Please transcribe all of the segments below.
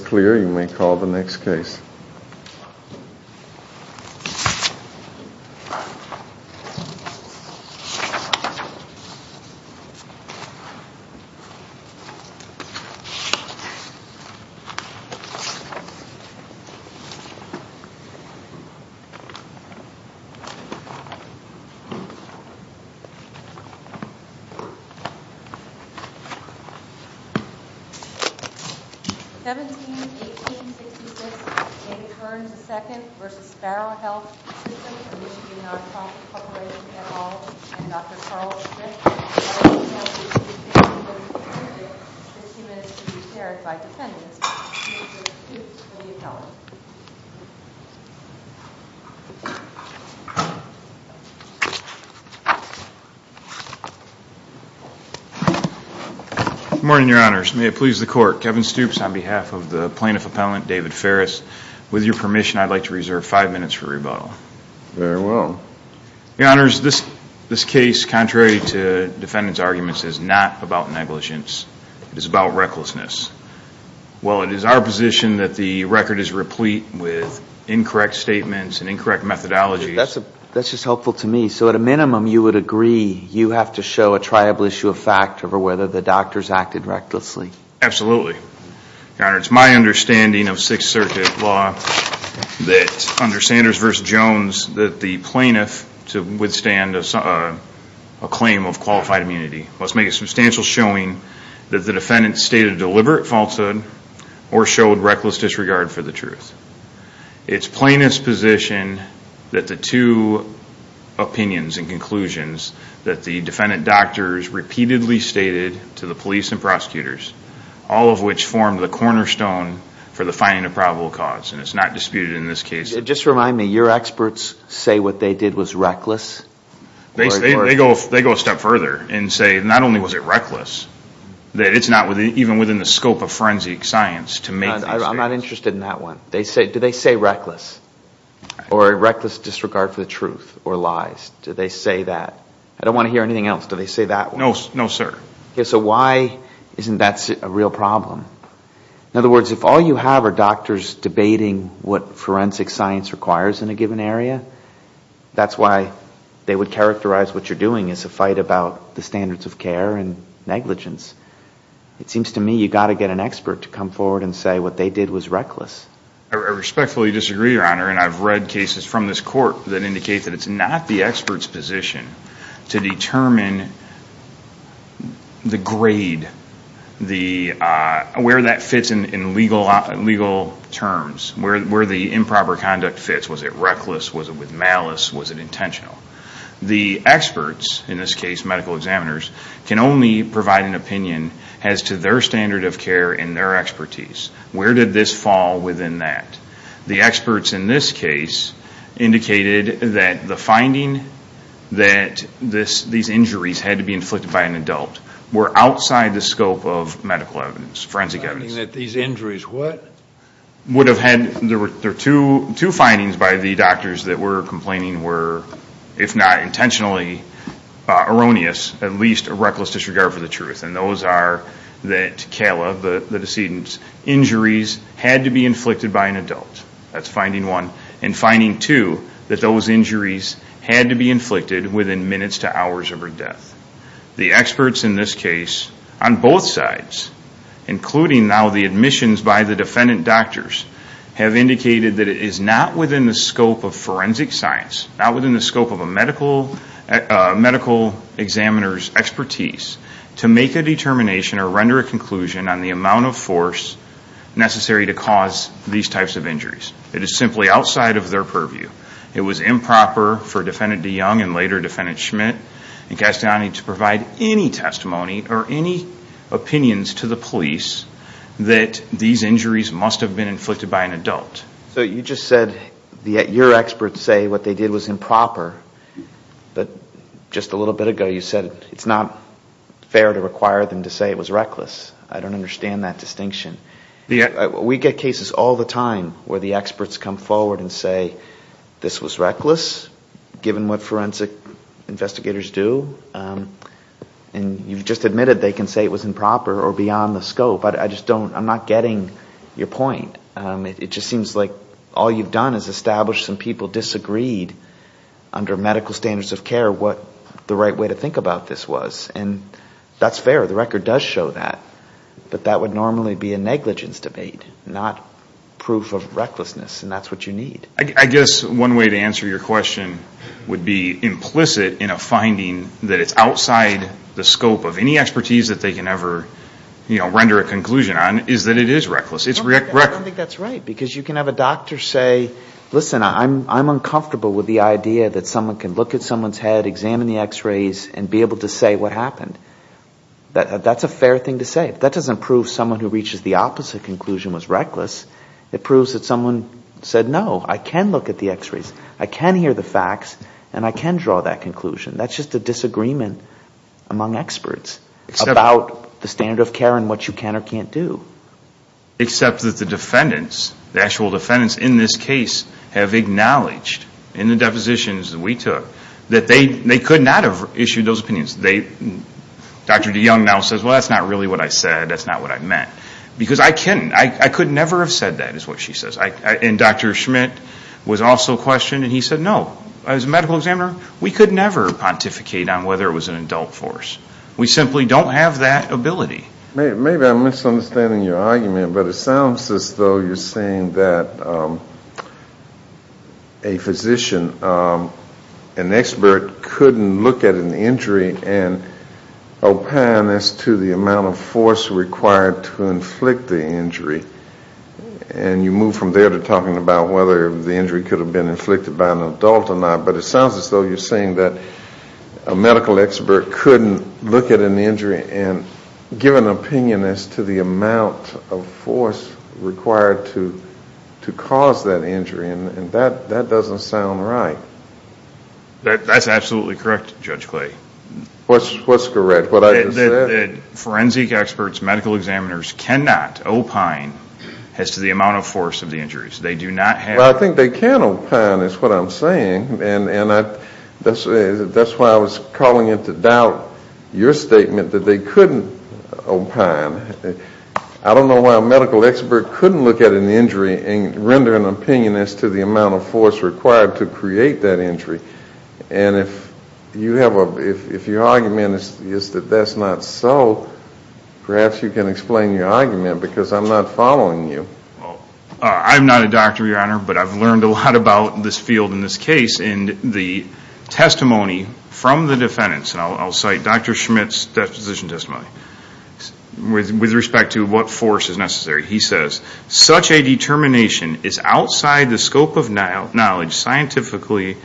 Clearingly call the next case 1866, Amy Kearns II v. Sparrow Health System, a Michigan non-profit corporation, et al. and Dr. Charles Strickland, a Washington, D.C. State University candidate, 50 minutes to be carried by defendants. Mr. Stoops, will you tell us? Good morning, your honors. May it please the court. Kevin Stoops on behalf of the plaintiff appellant, David Ferris. With your permission, I'd like to reserve five minutes for rebuttal. Very well. Your honors, this case, contrary to defendants' arguments, is not about negligence. It is about recklessness. Well, it is our position that the record is replete with incorrect statements and incorrect methodologies. That's just helpful to me. So at a minimum, you would agree you have to show a triable issue of fact over whether the doctors acted recklessly? Absolutely. Your honors, it's my understanding of Sixth Circuit law that under Sanders v. Jones that the plaintiff, to withstand a claim of qualified immunity, must make a substantial showing that the defendant stated deliberate falsehood or showed reckless disregard for the truth. It's plaintiff's position that the two opinions and conclusions that the defendant doctors repeatedly stated to the police and prosecutors, all of which formed the cornerstone for the finding of probable cause, and it's not disputed in this case. Just remind me, your experts say what they did was reckless? They go a step further and say not only was it reckless, that it's not even within the scope of forensic science to make these statements. I'm not interested in that one. Do they say reckless or reckless disregard for the truth or lies? Do they say that? I don't want to hear anything else. Do they say that one? No, sir. Okay, so why isn't that a real problem? In other words, if all you have are doctors debating what forensic science requires in a given area, that's why they would characterize what you're doing as a fight about the standards of care and negligence. It seems to me you've got to get an expert to come forward and say what they did was reckless. I respectfully disagree, your honor, and I've read cases from this court that indicate that it's not the expert's position to determine the grade, where that fits in legal terms, where the improper conduct fits. Was it reckless? Was it with malice? Was it intentional? The experts, in this case medical examiners, can only provide an opinion as to their standard of care and their expertise. Where did this fall within that? The experts in this case indicated that the finding that these injuries had to be inflicted by an adult were outside the scope of medical evidence, forensic evidence. The finding that these injuries what? There were two findings by the doctors that were complaining were, if not intentionally erroneous, at least a reckless disregard for the truth, and those are that Kayla, the decedent's injuries had to be inflicted by an adult. That's finding one. And finding two, that those injuries had to be inflicted within minutes to hours of her death. The experts in this case, on both sides, including now the admissions by the defendant doctors, have indicated that it is not within the scope of forensic science, not within the scope of a medical examiner's expertise, to make a determination or render a conclusion on the amount of force necessary to cause these types of injuries. It is simply outside of their purview. It was improper for defendant that these injuries must have been inflicted by an adult. So you just said your experts say what they did was improper, but just a little bit ago you said it's not fair to require them to say it was reckless. I don't understand that distinction. We get cases all the time where the experts come forward and say this was reckless, given what forensic investigators do, and you've just admitted they can say it was improper or beyond the scope. I'm not getting your point. It just seems like all you've done is establish some people disagreed under medical standards of care what the right way to think about this was. And that's fair. The record does show that. But that would normally be a negligence debate, not proof of recklessness. And that's what you need. I guess one way to answer your question would be implicit in a finding that it's outside the scope of any expertise that they can ever render a conclusion on is that it is reckless. I don't think that's right. Because you can have a doctor say, listen, I'm uncomfortable with the idea that someone can look at someone's head, examine the x-rays and be able to say what happened. That's a fair thing to say. That doesn't prove someone who reaches the opposite conclusion was reckless. It proves that someone said, no, I can look at the x-rays, I can hear the facts, and I can draw that conclusion. That's just a disagreement among experts about the standard of care and what you can or can't do. Except that the defendants, the actual defendants in this case, have acknowledged in the depositions that we took that they could not have issued those opinions. Dr. DeYoung now says, well, that's not really what I said, that's not what I meant. Because I couldn't. I could never have said that, is what she says. And Dr. Schmidt was also questioned, and he said, no. As a medical examiner, we could never pontificate on whether it was an adult force. We simply don't have that ability. Maybe I'm misunderstanding your argument, but it sounds as though you're saying that a physician, an expert couldn't look at an injury and opine as to the amount of force required to inflict the injury. And you move from there to talking about whether the injury could have been inflicted by an adult or not. But it sounds as though you're saying that a medical expert couldn't look at an injury and give an opinion as to the amount of force required to cause that injury. And that doesn't sound right. That's absolutely correct, Judge Clay. What's correct? What I just said? Forensic experts, medical examiners cannot opine as to the amount of force of the injuries. They do not have. Well, I think they can opine, is what I'm saying. And that's why I was calling into doubt your statement that they couldn't opine. I don't know why a medical expert couldn't look at an injury and render an opinion as to the amount of force required to create that injury. And if your argument is that that's not so, perhaps you can explain your argument because I'm not following you. I'm not a doctor, Your Honor, but I've learned a lot about this field and this case. And the testimony from the defendants, and I'll cite Dr. Schmidt's decision testimony, with respect to what force is necessary, he says, such a determination is outside the scope of knowledge scientifically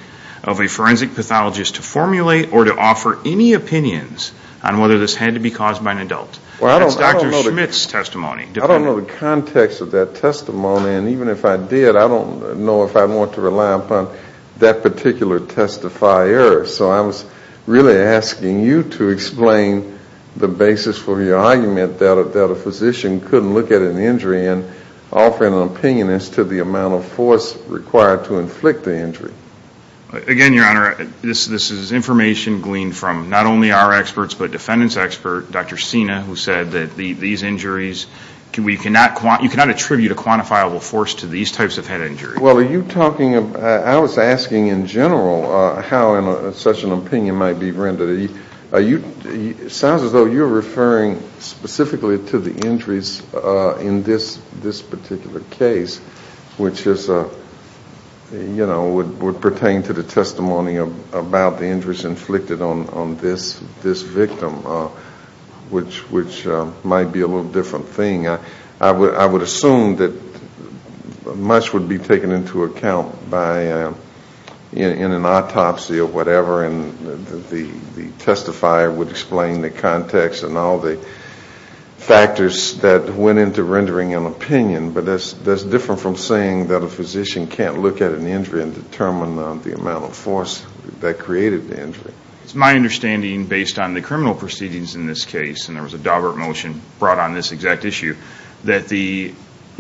of a forensic pathologist to formulate or to offer any opinions on whether this had to be caused by an adult. That's Dr. Schmidt's testimony. I don't know the context of that testimony, and even if I did, I don't know if I want to rely upon that particular testifier. So I was really asking you to explain the basis for your argument that a physician couldn't look at an injury and offer an opinion as to the amount of force required to inflict the injury. Again, Your Honor, this is information gleaned from not only our experts but defendants' experts, Dr. Sina, who said that these injuries, you cannot attribute a quantifiable force to these types of head injuries. Well, are you talking about, I was asking in general how such an opinion might be rendered. It sounds as though you're referring specifically to the injuries in this particular case, which would pertain to the testimony about the injuries inflicted on this victim, which might be a little different thing. I would assume that much would be taken into account in an autopsy or whatever, and the testifier would explain the context and all the factors that went into rendering an opinion. But that's different from saying that a physician can't look at an injury and determine the amount of force that created the injury. It's my understanding, based on the criminal proceedings in this case, and there was a Daubert motion brought on this exact issue, that the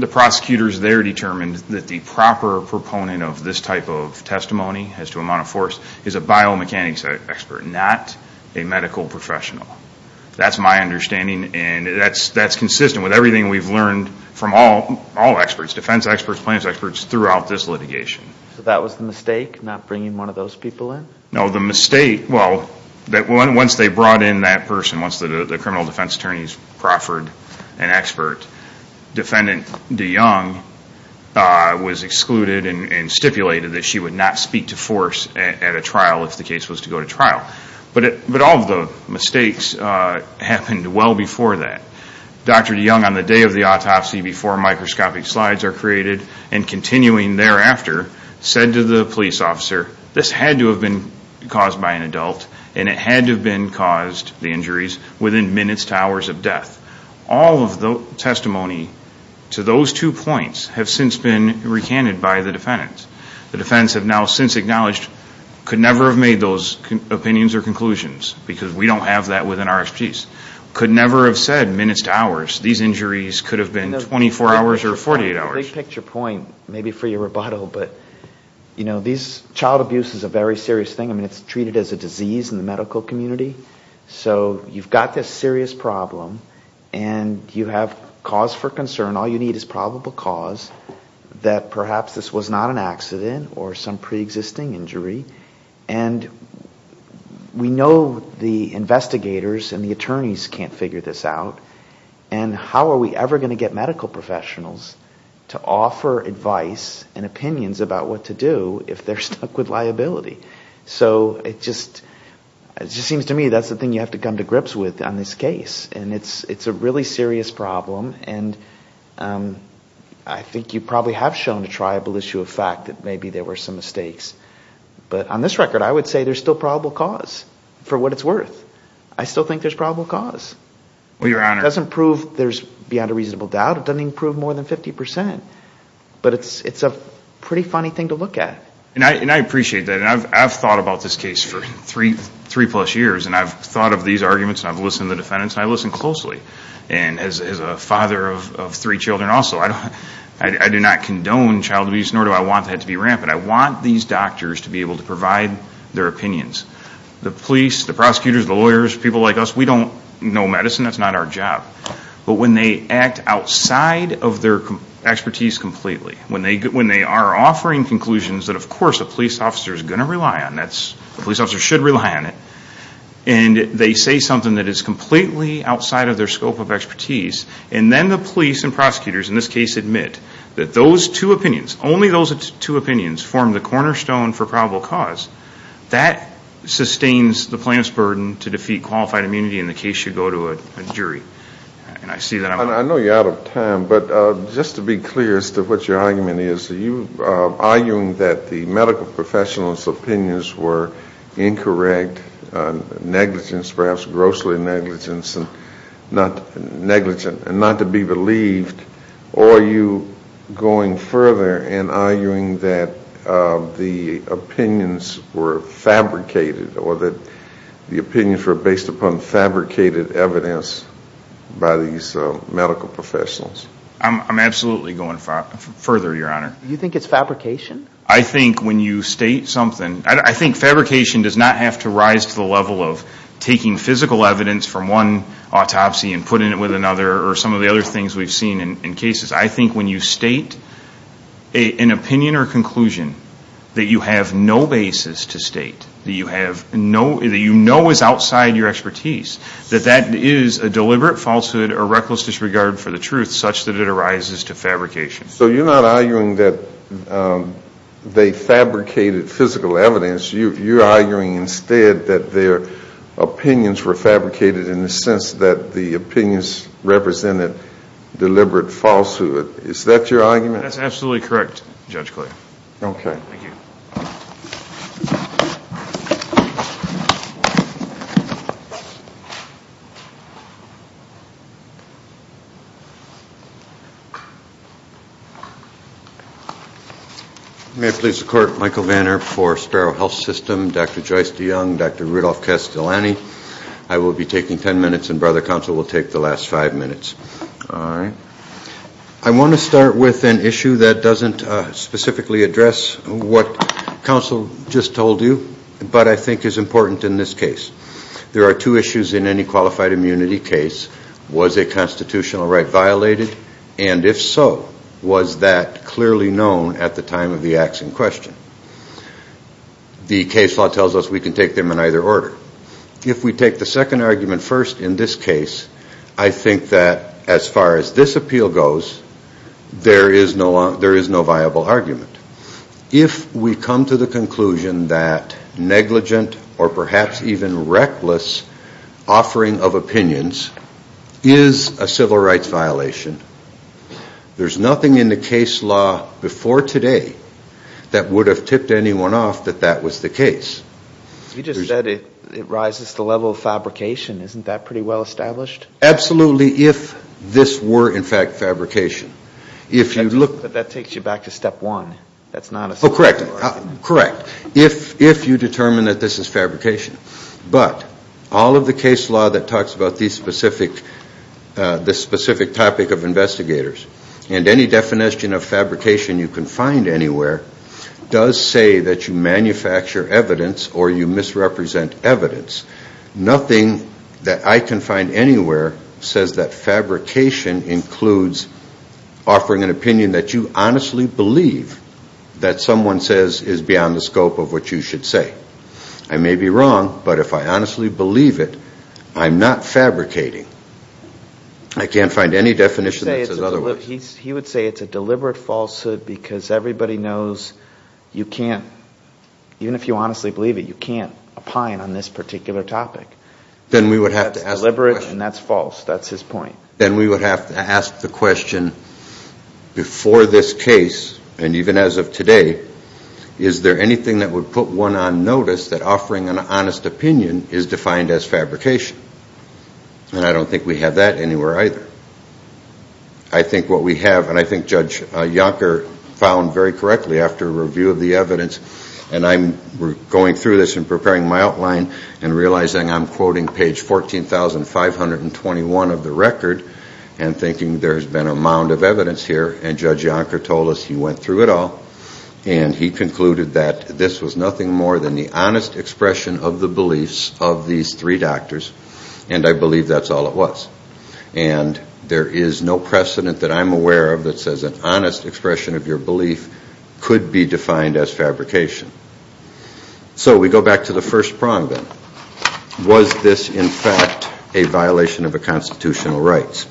prosecutors there determined that the proper proponent of this type of testimony as to amount of force is a biomechanics expert, not a medical professional. That's my understanding, and that's consistent with everything we've learned from all experts, defense experts, plaintiffs' experts, throughout this litigation. So that was the mistake, not bringing one of those people in? No, the mistake, well, once they brought in that person, once the criminal defense attorneys proffered an expert, defendant DeYoung was excluded and stipulated that she would not speak to force at a trial if the case was to go to trial. But all of the mistakes happened well before that. Dr. DeYoung, on the day of the autopsy, before microscopic slides are created, and continuing thereafter, said to the police officer, this had to have been caused by an adult, and it had to have been caused, the injuries, within minutes to hours of death. All of the testimony to those two points have since been recanted by the defendants. The defendants have now since acknowledged, could never have made those opinions or conclusions, because we don't have that within our expertise. Could never have said, minutes to hours, these injuries could have been 24 hours or 48 hours. Well, that's a big picture point, maybe for your rebuttal, but, you know, child abuse is a very serious thing. I mean, it's treated as a disease in the medical community. So you've got this serious problem, and you have cause for concern. All you need is probable cause that perhaps this was not an accident or some preexisting injury. And we know the investigators and the attorneys can't figure this out. And how are we ever going to get medical professionals to offer advice and opinions about what to do if they're stuck with liability? So it just seems to me that's the thing you have to come to grips with on this case. And it's a really serious problem, and I think you probably have shown a triable issue of fact that maybe there were some mistakes. But on this record, I would say there's still probable cause, for what it's worth. I still think there's probable cause. It doesn't prove there's beyond a reasonable doubt. It doesn't even prove more than 50%. But it's a pretty funny thing to look at. And I appreciate that, and I've thought about this case for three-plus years, and I've thought of these arguments, and I've listened to the defendants, and I listen closely. And as a father of three children also, I do not condone child abuse, nor do I want that to be rampant. I want these doctors to be able to provide their opinions. The police, the prosecutors, the lawyers, people like us, we don't know medicine. That's not our job. But when they act outside of their expertise completely, when they are offering conclusions that, of course, a police officer is going to rely on, a police officer should rely on it, and they say something that is completely outside of their scope of expertise, and then the police and prosecutors in this case admit that those two opinions, only those two opinions form the cornerstone for probable cause, that sustains the plaintiff's burden to defeat qualified immunity in the case you go to a jury. And I see that. I know you're out of time, but just to be clear as to what your argument is, are you arguing that the medical professional's opinions were incorrect, negligence, perhaps grossly negligent and not to be believed, or are you going further and arguing that the opinions were fabricated or that the opinions were based upon fabricated evidence by these medical professionals? I'm absolutely going further, Your Honor. You think it's fabrication? I think when you state something, I think fabrication does not have to rise to the level of taking physical evidence from one autopsy and putting it with another or some of the other things we've seen in cases. I think when you state an opinion or conclusion that you have no basis to state, that you know is outside your expertise, that that is a deliberate falsehood or reckless disregard for the truth such that it arises to fabrication. So you're not arguing that they fabricated physical evidence. You're arguing instead that their opinions were fabricated in the sense that the opinions represented deliberate falsehood. Is that your argument? That's absolutely correct, Judge Clay. Okay. Thank you. Thank you. May it please the Court, Michael Vanner for Sterile Health System, Dr. Joyce DeYoung, Dr. Rudolph Castellani. I will be taking ten minutes and Brother Counsel will take the last five minutes. All right. I want to start with an issue that doesn't specifically address what Counsel just told you, but I think is important in this case. There are two issues in any qualified immunity case. Was a constitutional right violated? And if so, was that clearly known at the time of the acts in question? The case law tells us we can take them in either order. If we take the second argument first in this case, I think that as far as this appeal goes, there is no viable argument. If we come to the conclusion that negligent or perhaps even reckless offering of opinions is a civil rights violation, there's nothing in the case law before today that would have tipped anyone off that that was the case. You just said it rises to the level of fabrication. Isn't that pretty well established? Absolutely if this were in fact fabrication. But that takes you back to step one. That's not a civil right. Correct. Correct. If you determine that this is fabrication. But all of the case law that talks about this specific topic of investigators and any definition of fabrication you can find anywhere does say that you manufacture evidence or you misrepresent evidence. Nothing that I can find anywhere says that fabrication includes offering an opinion that you honestly believe that someone says is beyond the scope of what you should say. I may be wrong, but if I honestly believe it, I'm not fabricating. I can't find any definition that says otherwise. He would say it's a deliberate falsehood because everybody knows you can't, even if you honestly believe it, you can't opine on this particular topic. That's deliberate and that's false. That's his point. Then we would have to ask the question before this case and even as of today, is there anything that would put one on notice that offering an honest opinion is defined as fabrication? And I don't think we have that anywhere either. I think what we have and I think Judge Yonker found very correctly after a review of the evidence and I'm going through this and preparing my outline and realizing I'm quoting page 14,521 of the record and thinking there's been a mound of evidence here and Judge Yonker told us he went through it all and he concluded that this was nothing more than the honest expression of the beliefs of these three doctors and I believe that's all it was. And there is no precedent that I'm aware of that says an honest expression of your belief could be defined as fabrication. So we go back to the first prong then. Was this in fact a violation of the constitutional rights?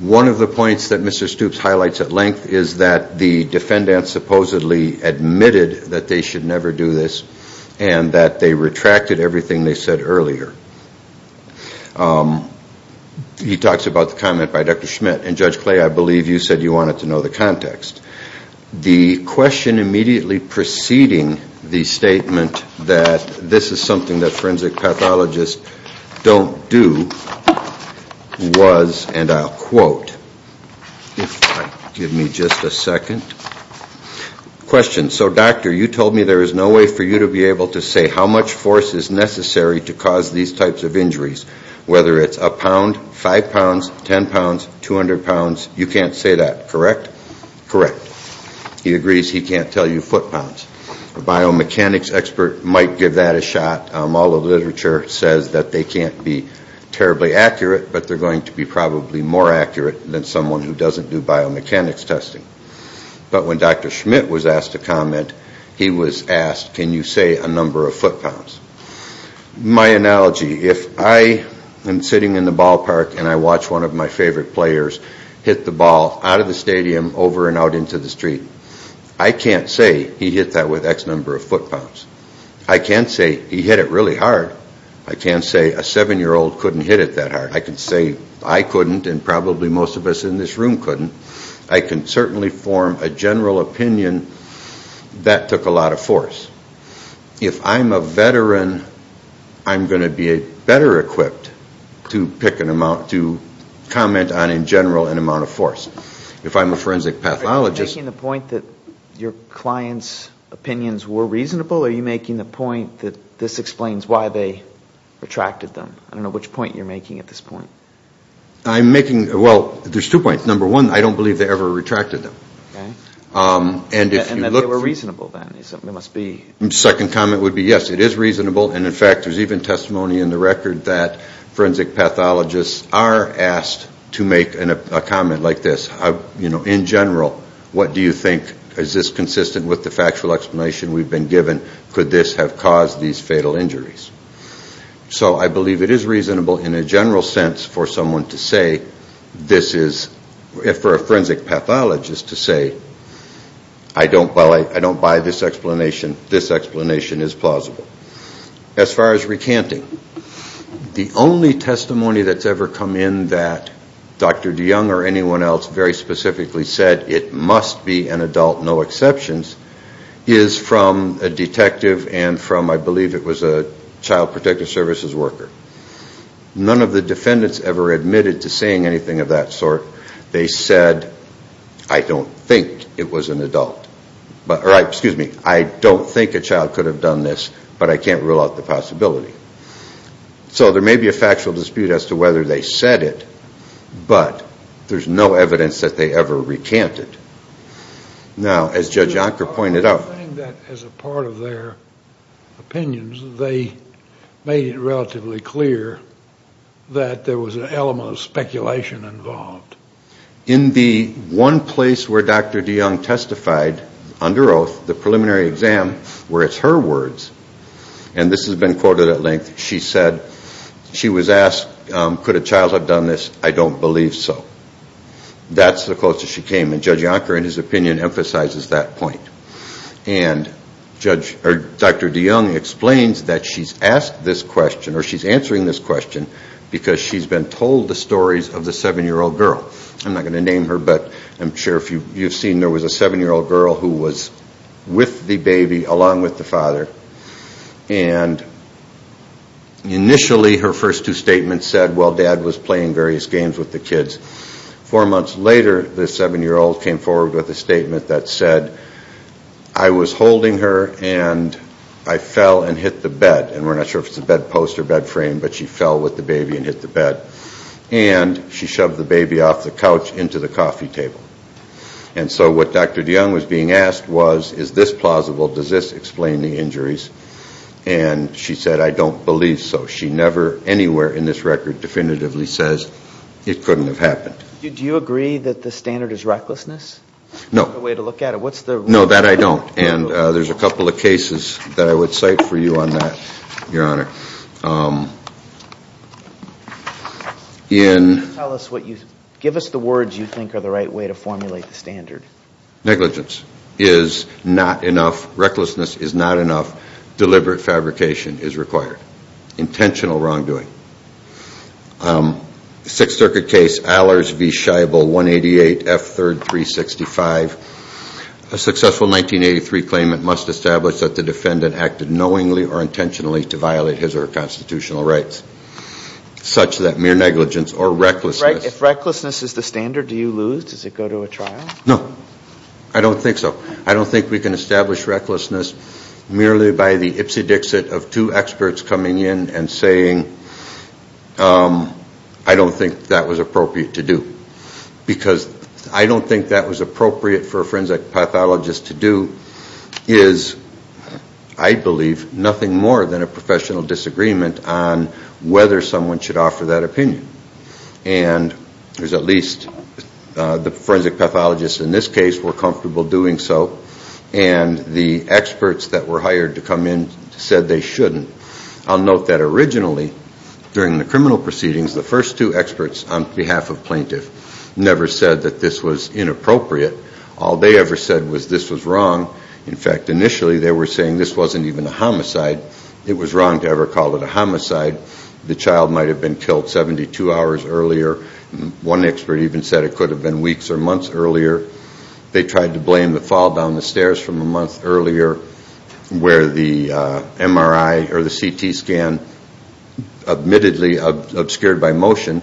One of the points that Mr. Stoops highlights at length is that the defendant supposedly admitted that they should never do this and that they retracted everything they said earlier. He talks about the comment by Dr. Schmidt and Judge Clay, I believe you said you wanted to know the context. The question immediately preceding the statement that this is something that forensic pathologists don't do was and I'll quote, if you'll give me just a second. Question. So doctor, you told me there is no way for you to be able to say how much force is necessary to cause these types of injuries. Whether it's a pound, five pounds, ten pounds, 200 pounds, you can't say that, correct? Correct. He agrees he can't tell you foot pounds. A biomechanics expert might give that a shot. All the literature says that they can't be terribly accurate, but they're going to be probably more accurate than someone who doesn't do biomechanics testing. But when Dr. Schmidt was asked to comment, he was asked, can you say a number of foot pounds? My analogy, if I am sitting in the ballpark and I watch one of my favorite players hit the ball out of the stadium over and out into the street, I can't say he hit that with X number of foot pounds. I can't say he hit it really hard. I can't say a seven-year-old couldn't hit it that hard. I can say I couldn't and probably most of us in this room couldn't. I can certainly form a general opinion that took a lot of force. If I'm a veteran, I'm going to be better equipped to pick an amount, to comment on in general an amount of force. If I'm a forensic pathologist... Are you making the point that this explains why they retracted them? I don't know which point you're making at this point. I'm making, well, there's two points. Number one, I don't believe they ever retracted them. And that they were reasonable then, it must be. The second comment would be yes, it is reasonable, and in fact there's even testimony in the record that forensic pathologists are asked to make a comment like this. In general, what do you think? Is this consistent with the factual explanation we've been given? Could this have caused these fatal injuries? So I believe it is reasonable in a general sense for someone to say this is... For a forensic pathologist to say, I don't buy this explanation, this explanation is plausible. As far as recanting, the only testimony that's ever come in that Dr. DeYoung or anyone else very specifically said it must be an adult, no exceptions, is from a detective and from, I believe it was a child protective services worker. None of the defendants ever admitted to saying anything of that sort. They said, I don't think it was an adult. Excuse me, I don't think a child could have done this, but I can't rule out the possibility. So there may be a factual dispute as to whether they said it, but there's no evidence that they ever recanted. Now, as Judge Yonker pointed out... I think that as a part of their opinions, they made it relatively clear that there was an element of speculation involved. In the one place where Dr. DeYoung testified under oath, the preliminary exam, where it's her words, and this has been quoted at length, she said she was asked, could a child have done this? I don't believe so. That's the closest she came, and Judge Yonker, in his opinion, emphasizes that point. And Dr. DeYoung explains that she's asked this question, or she's answering this question, because she's been told the stories of the 7-year-old girl. I'm not going to name her, but I'm sure you've seen there was a 7-year-old girl who was with the baby along with the father. And initially, her first two statements said, well, Dad was playing various games with the kids. Four months later, the 7-year-old came forward with a statement that said, I was holding her, and I fell and hit the bed. And we're not sure if it's a bed post or bed frame, but she fell with the baby and hit the bed. And she shoved the baby off the couch into the coffee table. And so what Dr. DeYoung was being asked was, is this plausible? Does this explain the injuries? And she said, I don't believe so. She never anywhere in this record definitively says it couldn't have happened. Do you agree that the standard is recklessness? No. What's the way to look at it? No, that I don't. And there's a couple of cases that I would cite for you on that, Your Honor. Give us the words you think are the right way to formulate the standard. Negligence is not enough. Recklessness is not enough. Deliberate fabrication is required. Intentional wrongdoing. Sixth Circuit case Allers v. Scheibel, 188 F. 3rd, 365. A successful 1983 claimant must establish that the defendant acted knowingly or intentionally to violate his or her contract. Such that mere negligence or recklessness. If recklessness is the standard, do you lose? Does it go to a trial? No. I don't think so. I don't think we can establish recklessness merely by the ipsy-dixit of two experts coming in and saying, I don't think that was appropriate to do. Because I don't think that was appropriate for a forensic pathologist to do is, I believe, nothing more than a professional disagreement on whether someone should offer that opinion. And there's at least the forensic pathologists in this case were comfortable doing so. And the experts that were hired to come in said they shouldn't. I'll note that originally, during the criminal proceedings, the first two experts on behalf of plaintiff never said that this was inappropriate. All they ever said was this was wrong. In fact, initially they were saying this wasn't even a homicide. It was wrong to ever call it a homicide. The child might have been killed 72 hours earlier. One expert even said it could have been weeks or months earlier. They tried to blame the fall down the stairs from a month earlier where the MRI or the CT scan admittedly obscured by motion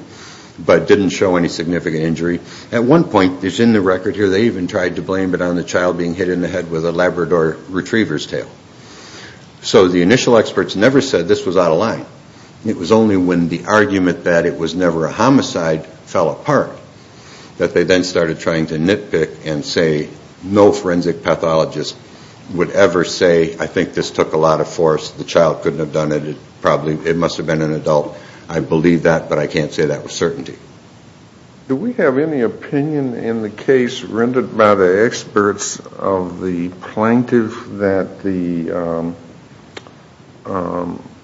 but didn't show any significant injury. At one point, it's in the record here, they even tried to blame it on the child being hit in the head with a Labrador retriever's tail. So the initial experts never said this was out of line. It was only when the argument that it was never a homicide fell apart that they then started trying to nitpick and say no forensic pathologist would ever say, I think this took a lot of force, the child couldn't have done it, it must have been an adult. I believe that, but I can't say that with certainty. Do we have any opinion in the case rendered by the experts of the plaintiff that the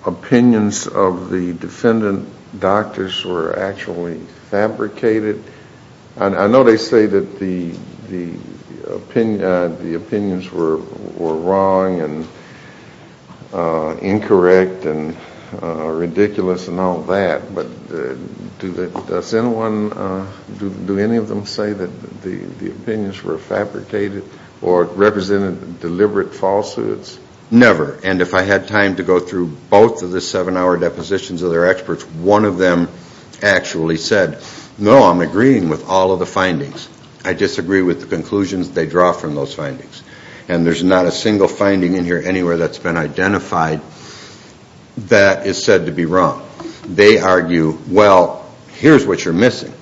opinions of the defendant doctors were actually fabricated? I know they say that the opinions were wrong and incorrect and ridiculous and all that, but does anyone, do any of them say that the opinions were fabricated or represented deliberate falsehoods? Never. And if I had time to go through both of the seven-hour depositions of their experts, one of them actually said, no, I'm agreeing with all of the findings. I disagree with the conclusions they draw from those findings. And there's not a single finding in here anywhere that's been identified that is said to be wrong. They argue, well, here's what you're missing.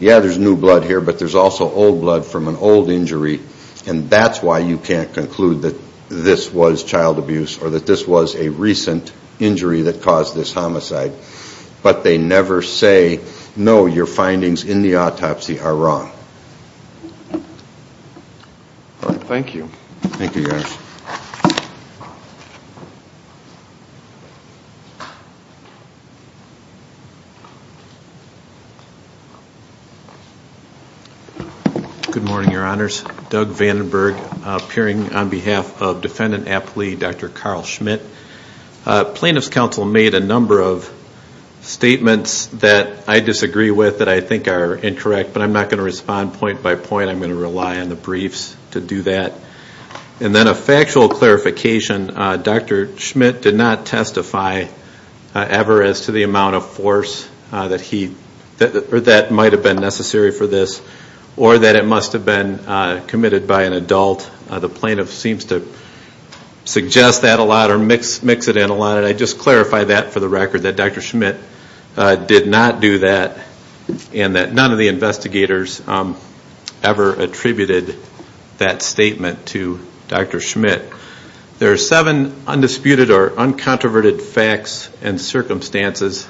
Yeah, there's new blood here, but there's also old blood from an old injury, and that's why you can't conclude that this was child abuse or that this was a recent injury that caused this homicide. But they never say, no, your findings in the autopsy are wrong. Thank you. Thank you, guys. Good morning, Your Honors. Doug Vandenberg, appearing on behalf of Defendant Aptly, Dr. Carl Schmidt. Plaintiff's counsel made a number of statements that I disagree with that I think are incorrect, but I'm not going to respond point by point. I'm going to rely on the briefs to do that. And then a factual clarification. Dr. Schmidt did not testify ever as to the amount of force that might have been necessary for this or that it must have been committed by an adult. The plaintiff seems to suggest that a lot or mix it in a lot. But I just clarify that for the record, that Dr. Schmidt did not do that and that none of the investigators ever attributed that statement to Dr. Schmidt. There are seven undisputed or uncontroverted facts and circumstances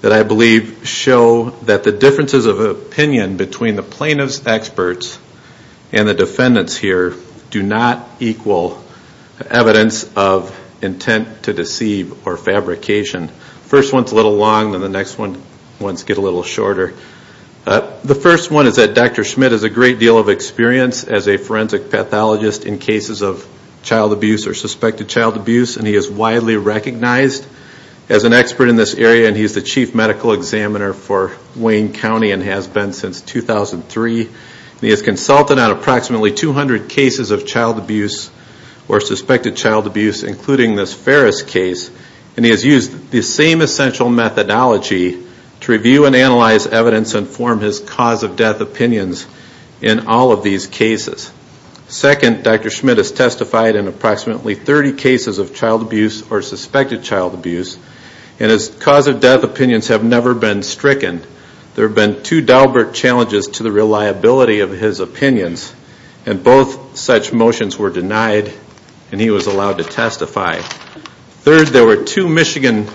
that I believe show that the differences of opinion between the plaintiff's experts and the defendants here do not equal evidence of intent to deceive or fabrication. First one's a little long, then the next ones get a little shorter. The first one is that Dr. Schmidt has a great deal of experience as a forensic pathologist in cases of child abuse or suspected child abuse. And he is widely recognized as an expert in this area and he's the chief medical examiner for Wayne County and has been since 2003. He has consulted on approximately 200 cases of child abuse or suspected child abuse, including this Ferris case. And he has used the same essential methodology to review and analyze evidence and form his cause of death opinions in all of these cases. Second, Dr. Schmidt has testified in approximately 30 cases of child abuse or suspected child abuse and his cause of death opinions have never been stricken. There have been two deliberate challenges to the reliability of his opinions and both such motions were denied and he was allowed to testify. Third, there were two Michigan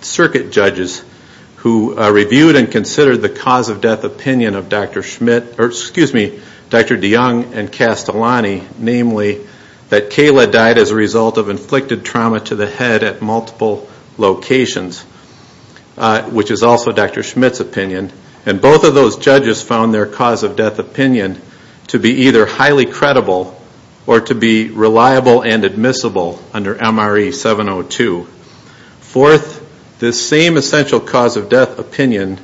circuit judges who reviewed and considered the cause of death opinion of Dr. DeYoung and Castellani, namely that Kayla died as a result of inflicted trauma to the head at multiple locations, which is also Dr. Schmidt's opinion. And both of those judges found their cause of death opinion to be either highly credible or to be reliable and admissible under MRE 702. Fourth, this same essential cause of death opinion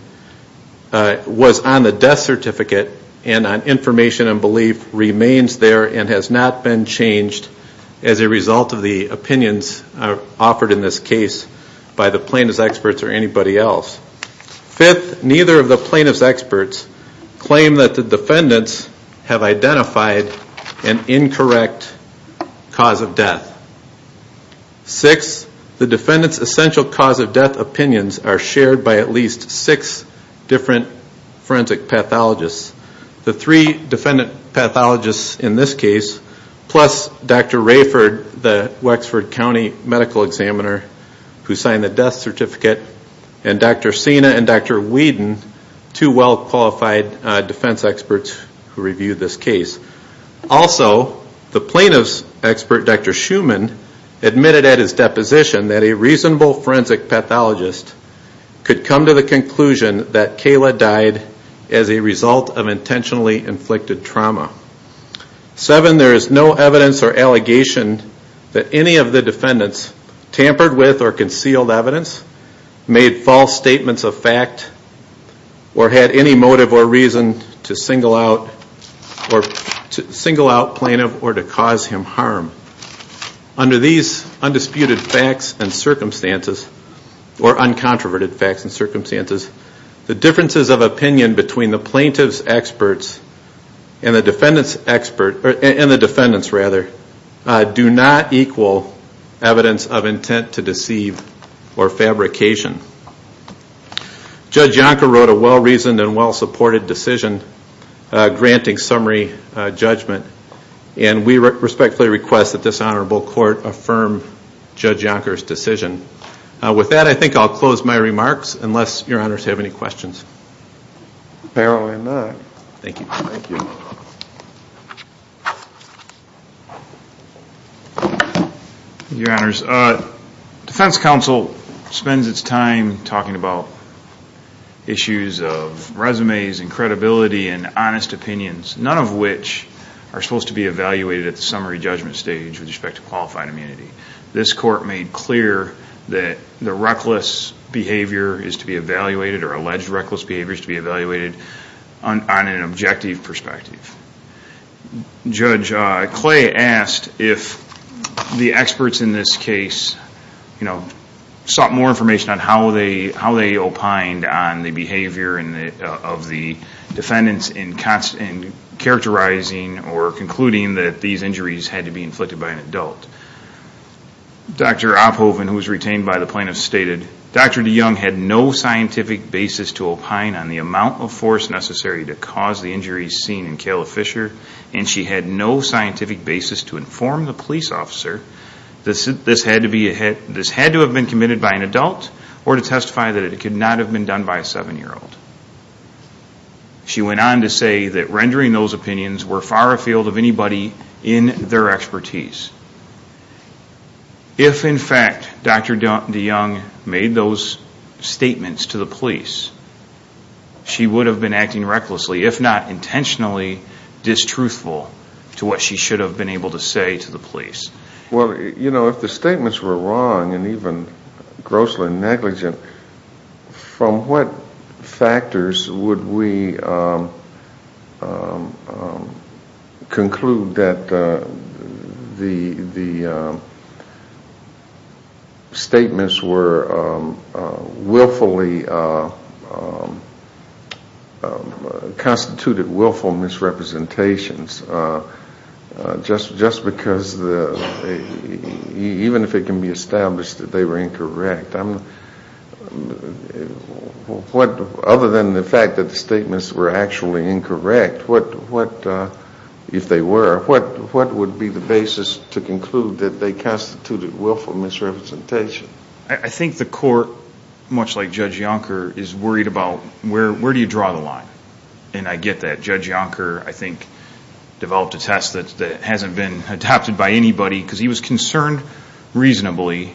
was on the death certificate and on information and belief remains there and has not been changed as a result of the opinions offered in this case by the plaintiff's experts or anybody else. Fifth, neither of the plaintiff's experts claim that the defendants have identified an incorrect cause of death. Sixth, the defendant's essential cause of death opinions are shared by at least six different forensic pathologists. The three defendant pathologists in this case, plus Dr. Rayford, the Wexford County medical examiner who signed the death certificate, and Dr. Sina and Dr. Whedon, two well-qualified defense experts who reviewed this case. Also, the plaintiff's expert, Dr. Schuman, admitted at his deposition that a reasonable forensic pathologist could come to the conclusion that Kayla died as a result of intentionally inflicted trauma. Seven, there is no evidence or allegation that any of the defendants tampered with or concealed evidence, made false statements of fact, or had any motive or reason to single out plaintiff or to cause him harm. Under these undisputed facts and circumstances, or uncontroverted facts and circumstances, the differences of opinion between the plaintiff's experts and the defendants do not equal evidence of intent to deceive or fabrication. Judge Yonker wrote a well-reasoned and well-supported decision granting summary judgment, and we respectfully request that this honorable court affirm Judge Yonker's decision. With that, I think I'll close my remarks, unless your honors have any questions. Apparently not. Thank you. Thank you. Your honors, defense counsel spends its time talking about issues of resumes and credibility and honest opinions, none of which are supposed to be evaluated at the summary judgment stage with respect to qualified immunity. This court made clear that the reckless behavior is to be evaluated, or alleged reckless behavior is to be evaluated on an objective perspective. Judge Clay asked if the experts in this case, you know, sought more information on how they opined on the behavior of the defendants in characterizing or concluding that these injuries had to be inflicted by an adult. Dr. Opphoven, who was retained by the plaintiffs, stated, Dr. DeYoung had no scientific basis to opine on the amount of force necessary to cause the injuries seen in Kayla Fisher, and she had no scientific basis to inform the police officer. This had to have been committed by an adult or to testify that it could not have been done by a seven-year-old. She went on to say that rendering those opinions were far afield of anybody in their expertise. If, in fact, Dr. DeYoung made those statements to the police, she would have been acting recklessly, if not intentionally distruthful, to what she should have been able to say to the police. Well, you know, if the statements were wrong and even grossly negligent, from what factors would we conclude that the statements were willfully, constituted willful misrepresentations? Just because even if it can be established that they were incorrect, other than the fact that the statements were actually incorrect, if they were, what would be the basis to conclude that they constituted willful misrepresentation? I think the court, much like Judge Yonker, is worried about where do you draw the line? And I get that. Judge Yonker, I think, developed a test that hasn't been adopted by anybody because he was concerned, reasonably,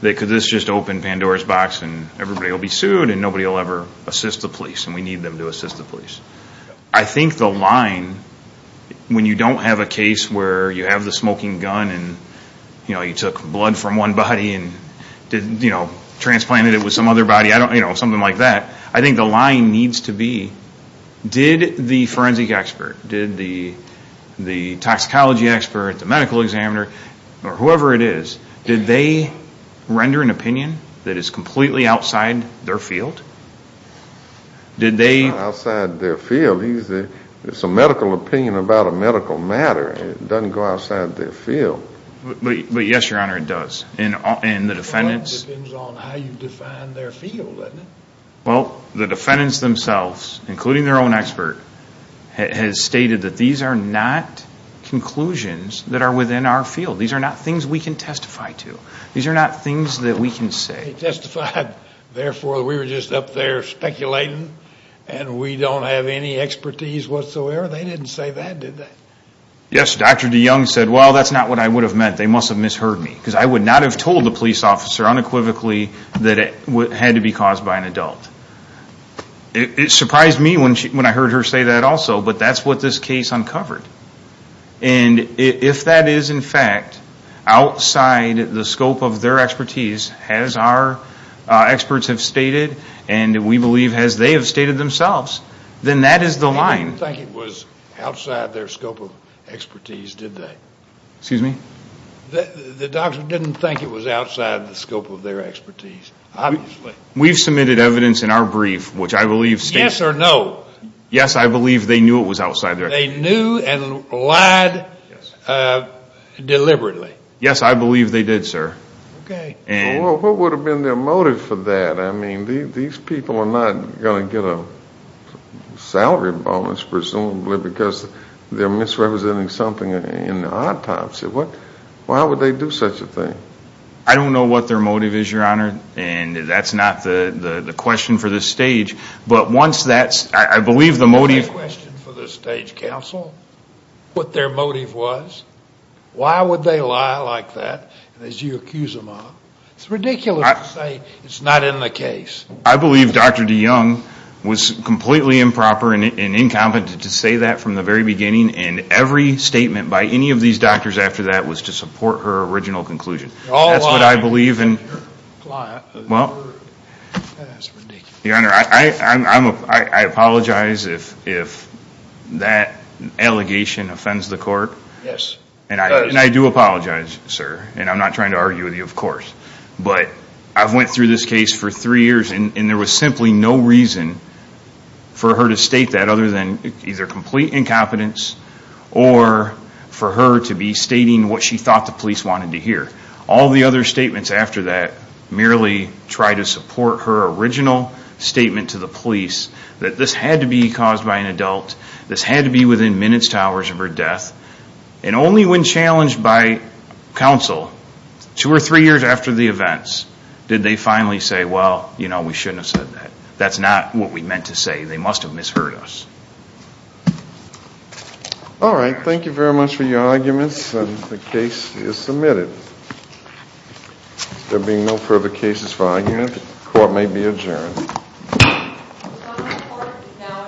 that could this just open Pandora's box and everybody will be sued and nobody will ever assist the police, and we need them to assist the police. I think the line, when you don't have a case where you have the smoking gun and you took blood from one body and transplanted it with some other body, something like that, I think the line needs to be, did the forensic expert, did the toxicology expert, the medical examiner, or whoever it is, did they render an opinion that is completely outside their field? It's not outside their field. It's a medical opinion about a medical matter. It doesn't go outside their field. Yes, Your Honor, it does. It depends on how you define their field, doesn't it? Well, the defendants themselves, including their own expert, has stated that these are not conclusions that are within our field. These are not things we can testify to. These are not things that we can say. They testified, therefore, we were just up there speculating and we don't have any expertise whatsoever. They didn't say that, did they? Yes, Dr. DeYoung said, well, that's not what I would have meant. They must have misheard me, because I would not have told the police officer unequivocally that it had to be caused by an adult. It surprised me when I heard her say that also, but that's what this case uncovered. If that is, in fact, outside the scope of their expertise, as our experts have stated and we believe as they have stated themselves, then that is the line. They didn't think it was outside their scope of expertise, did they? Excuse me? The doctor didn't think it was outside the scope of their expertise, obviously. We've submitted evidence in our brief, which I believe states- Yes or no? Yes, I believe they knew it was outside their- They knew and lied deliberately? Yes, I believe they did, sir. Okay. Well, what would have been their motive for that? I mean, these people are not going to get a salary bonus, presumably, because they're misrepresenting something in autopsy. Why would they do such a thing? I don't know what their motive is, Your Honor, and that's not the question for this stage, but once that's- I believe the motive- That's not the question for this stage, counsel. What their motive was? Why would they lie like that, as you accuse them of? It's ridiculous to say it's not in the case. I believe Dr. DeYoung was completely improper and incompetent to say that from the very beginning, and every statement by any of these doctors after that was to support her original conclusion. They're all lying. That's what I believe in. That's ridiculous. Your Honor, I apologize if that allegation offends the court. Yes, it does. But I've went through this case for three years, and there was simply no reason for her to state that other than either complete incompetence or for her to be stating what she thought the police wanted to hear. All the other statements after that merely try to support her original statement to the police that this had to be caused by an adult, this had to be within minutes to hours of her death, and only when challenged by counsel, two or three years after the events, did they finally say, well, you know, we shouldn't have said that. That's not what we meant to say. They must have misheard us. All right. Thank you very much for your arguments, and the case is submitted. There being no further cases for argument, the court may be adjourned. Your Honor, the court is now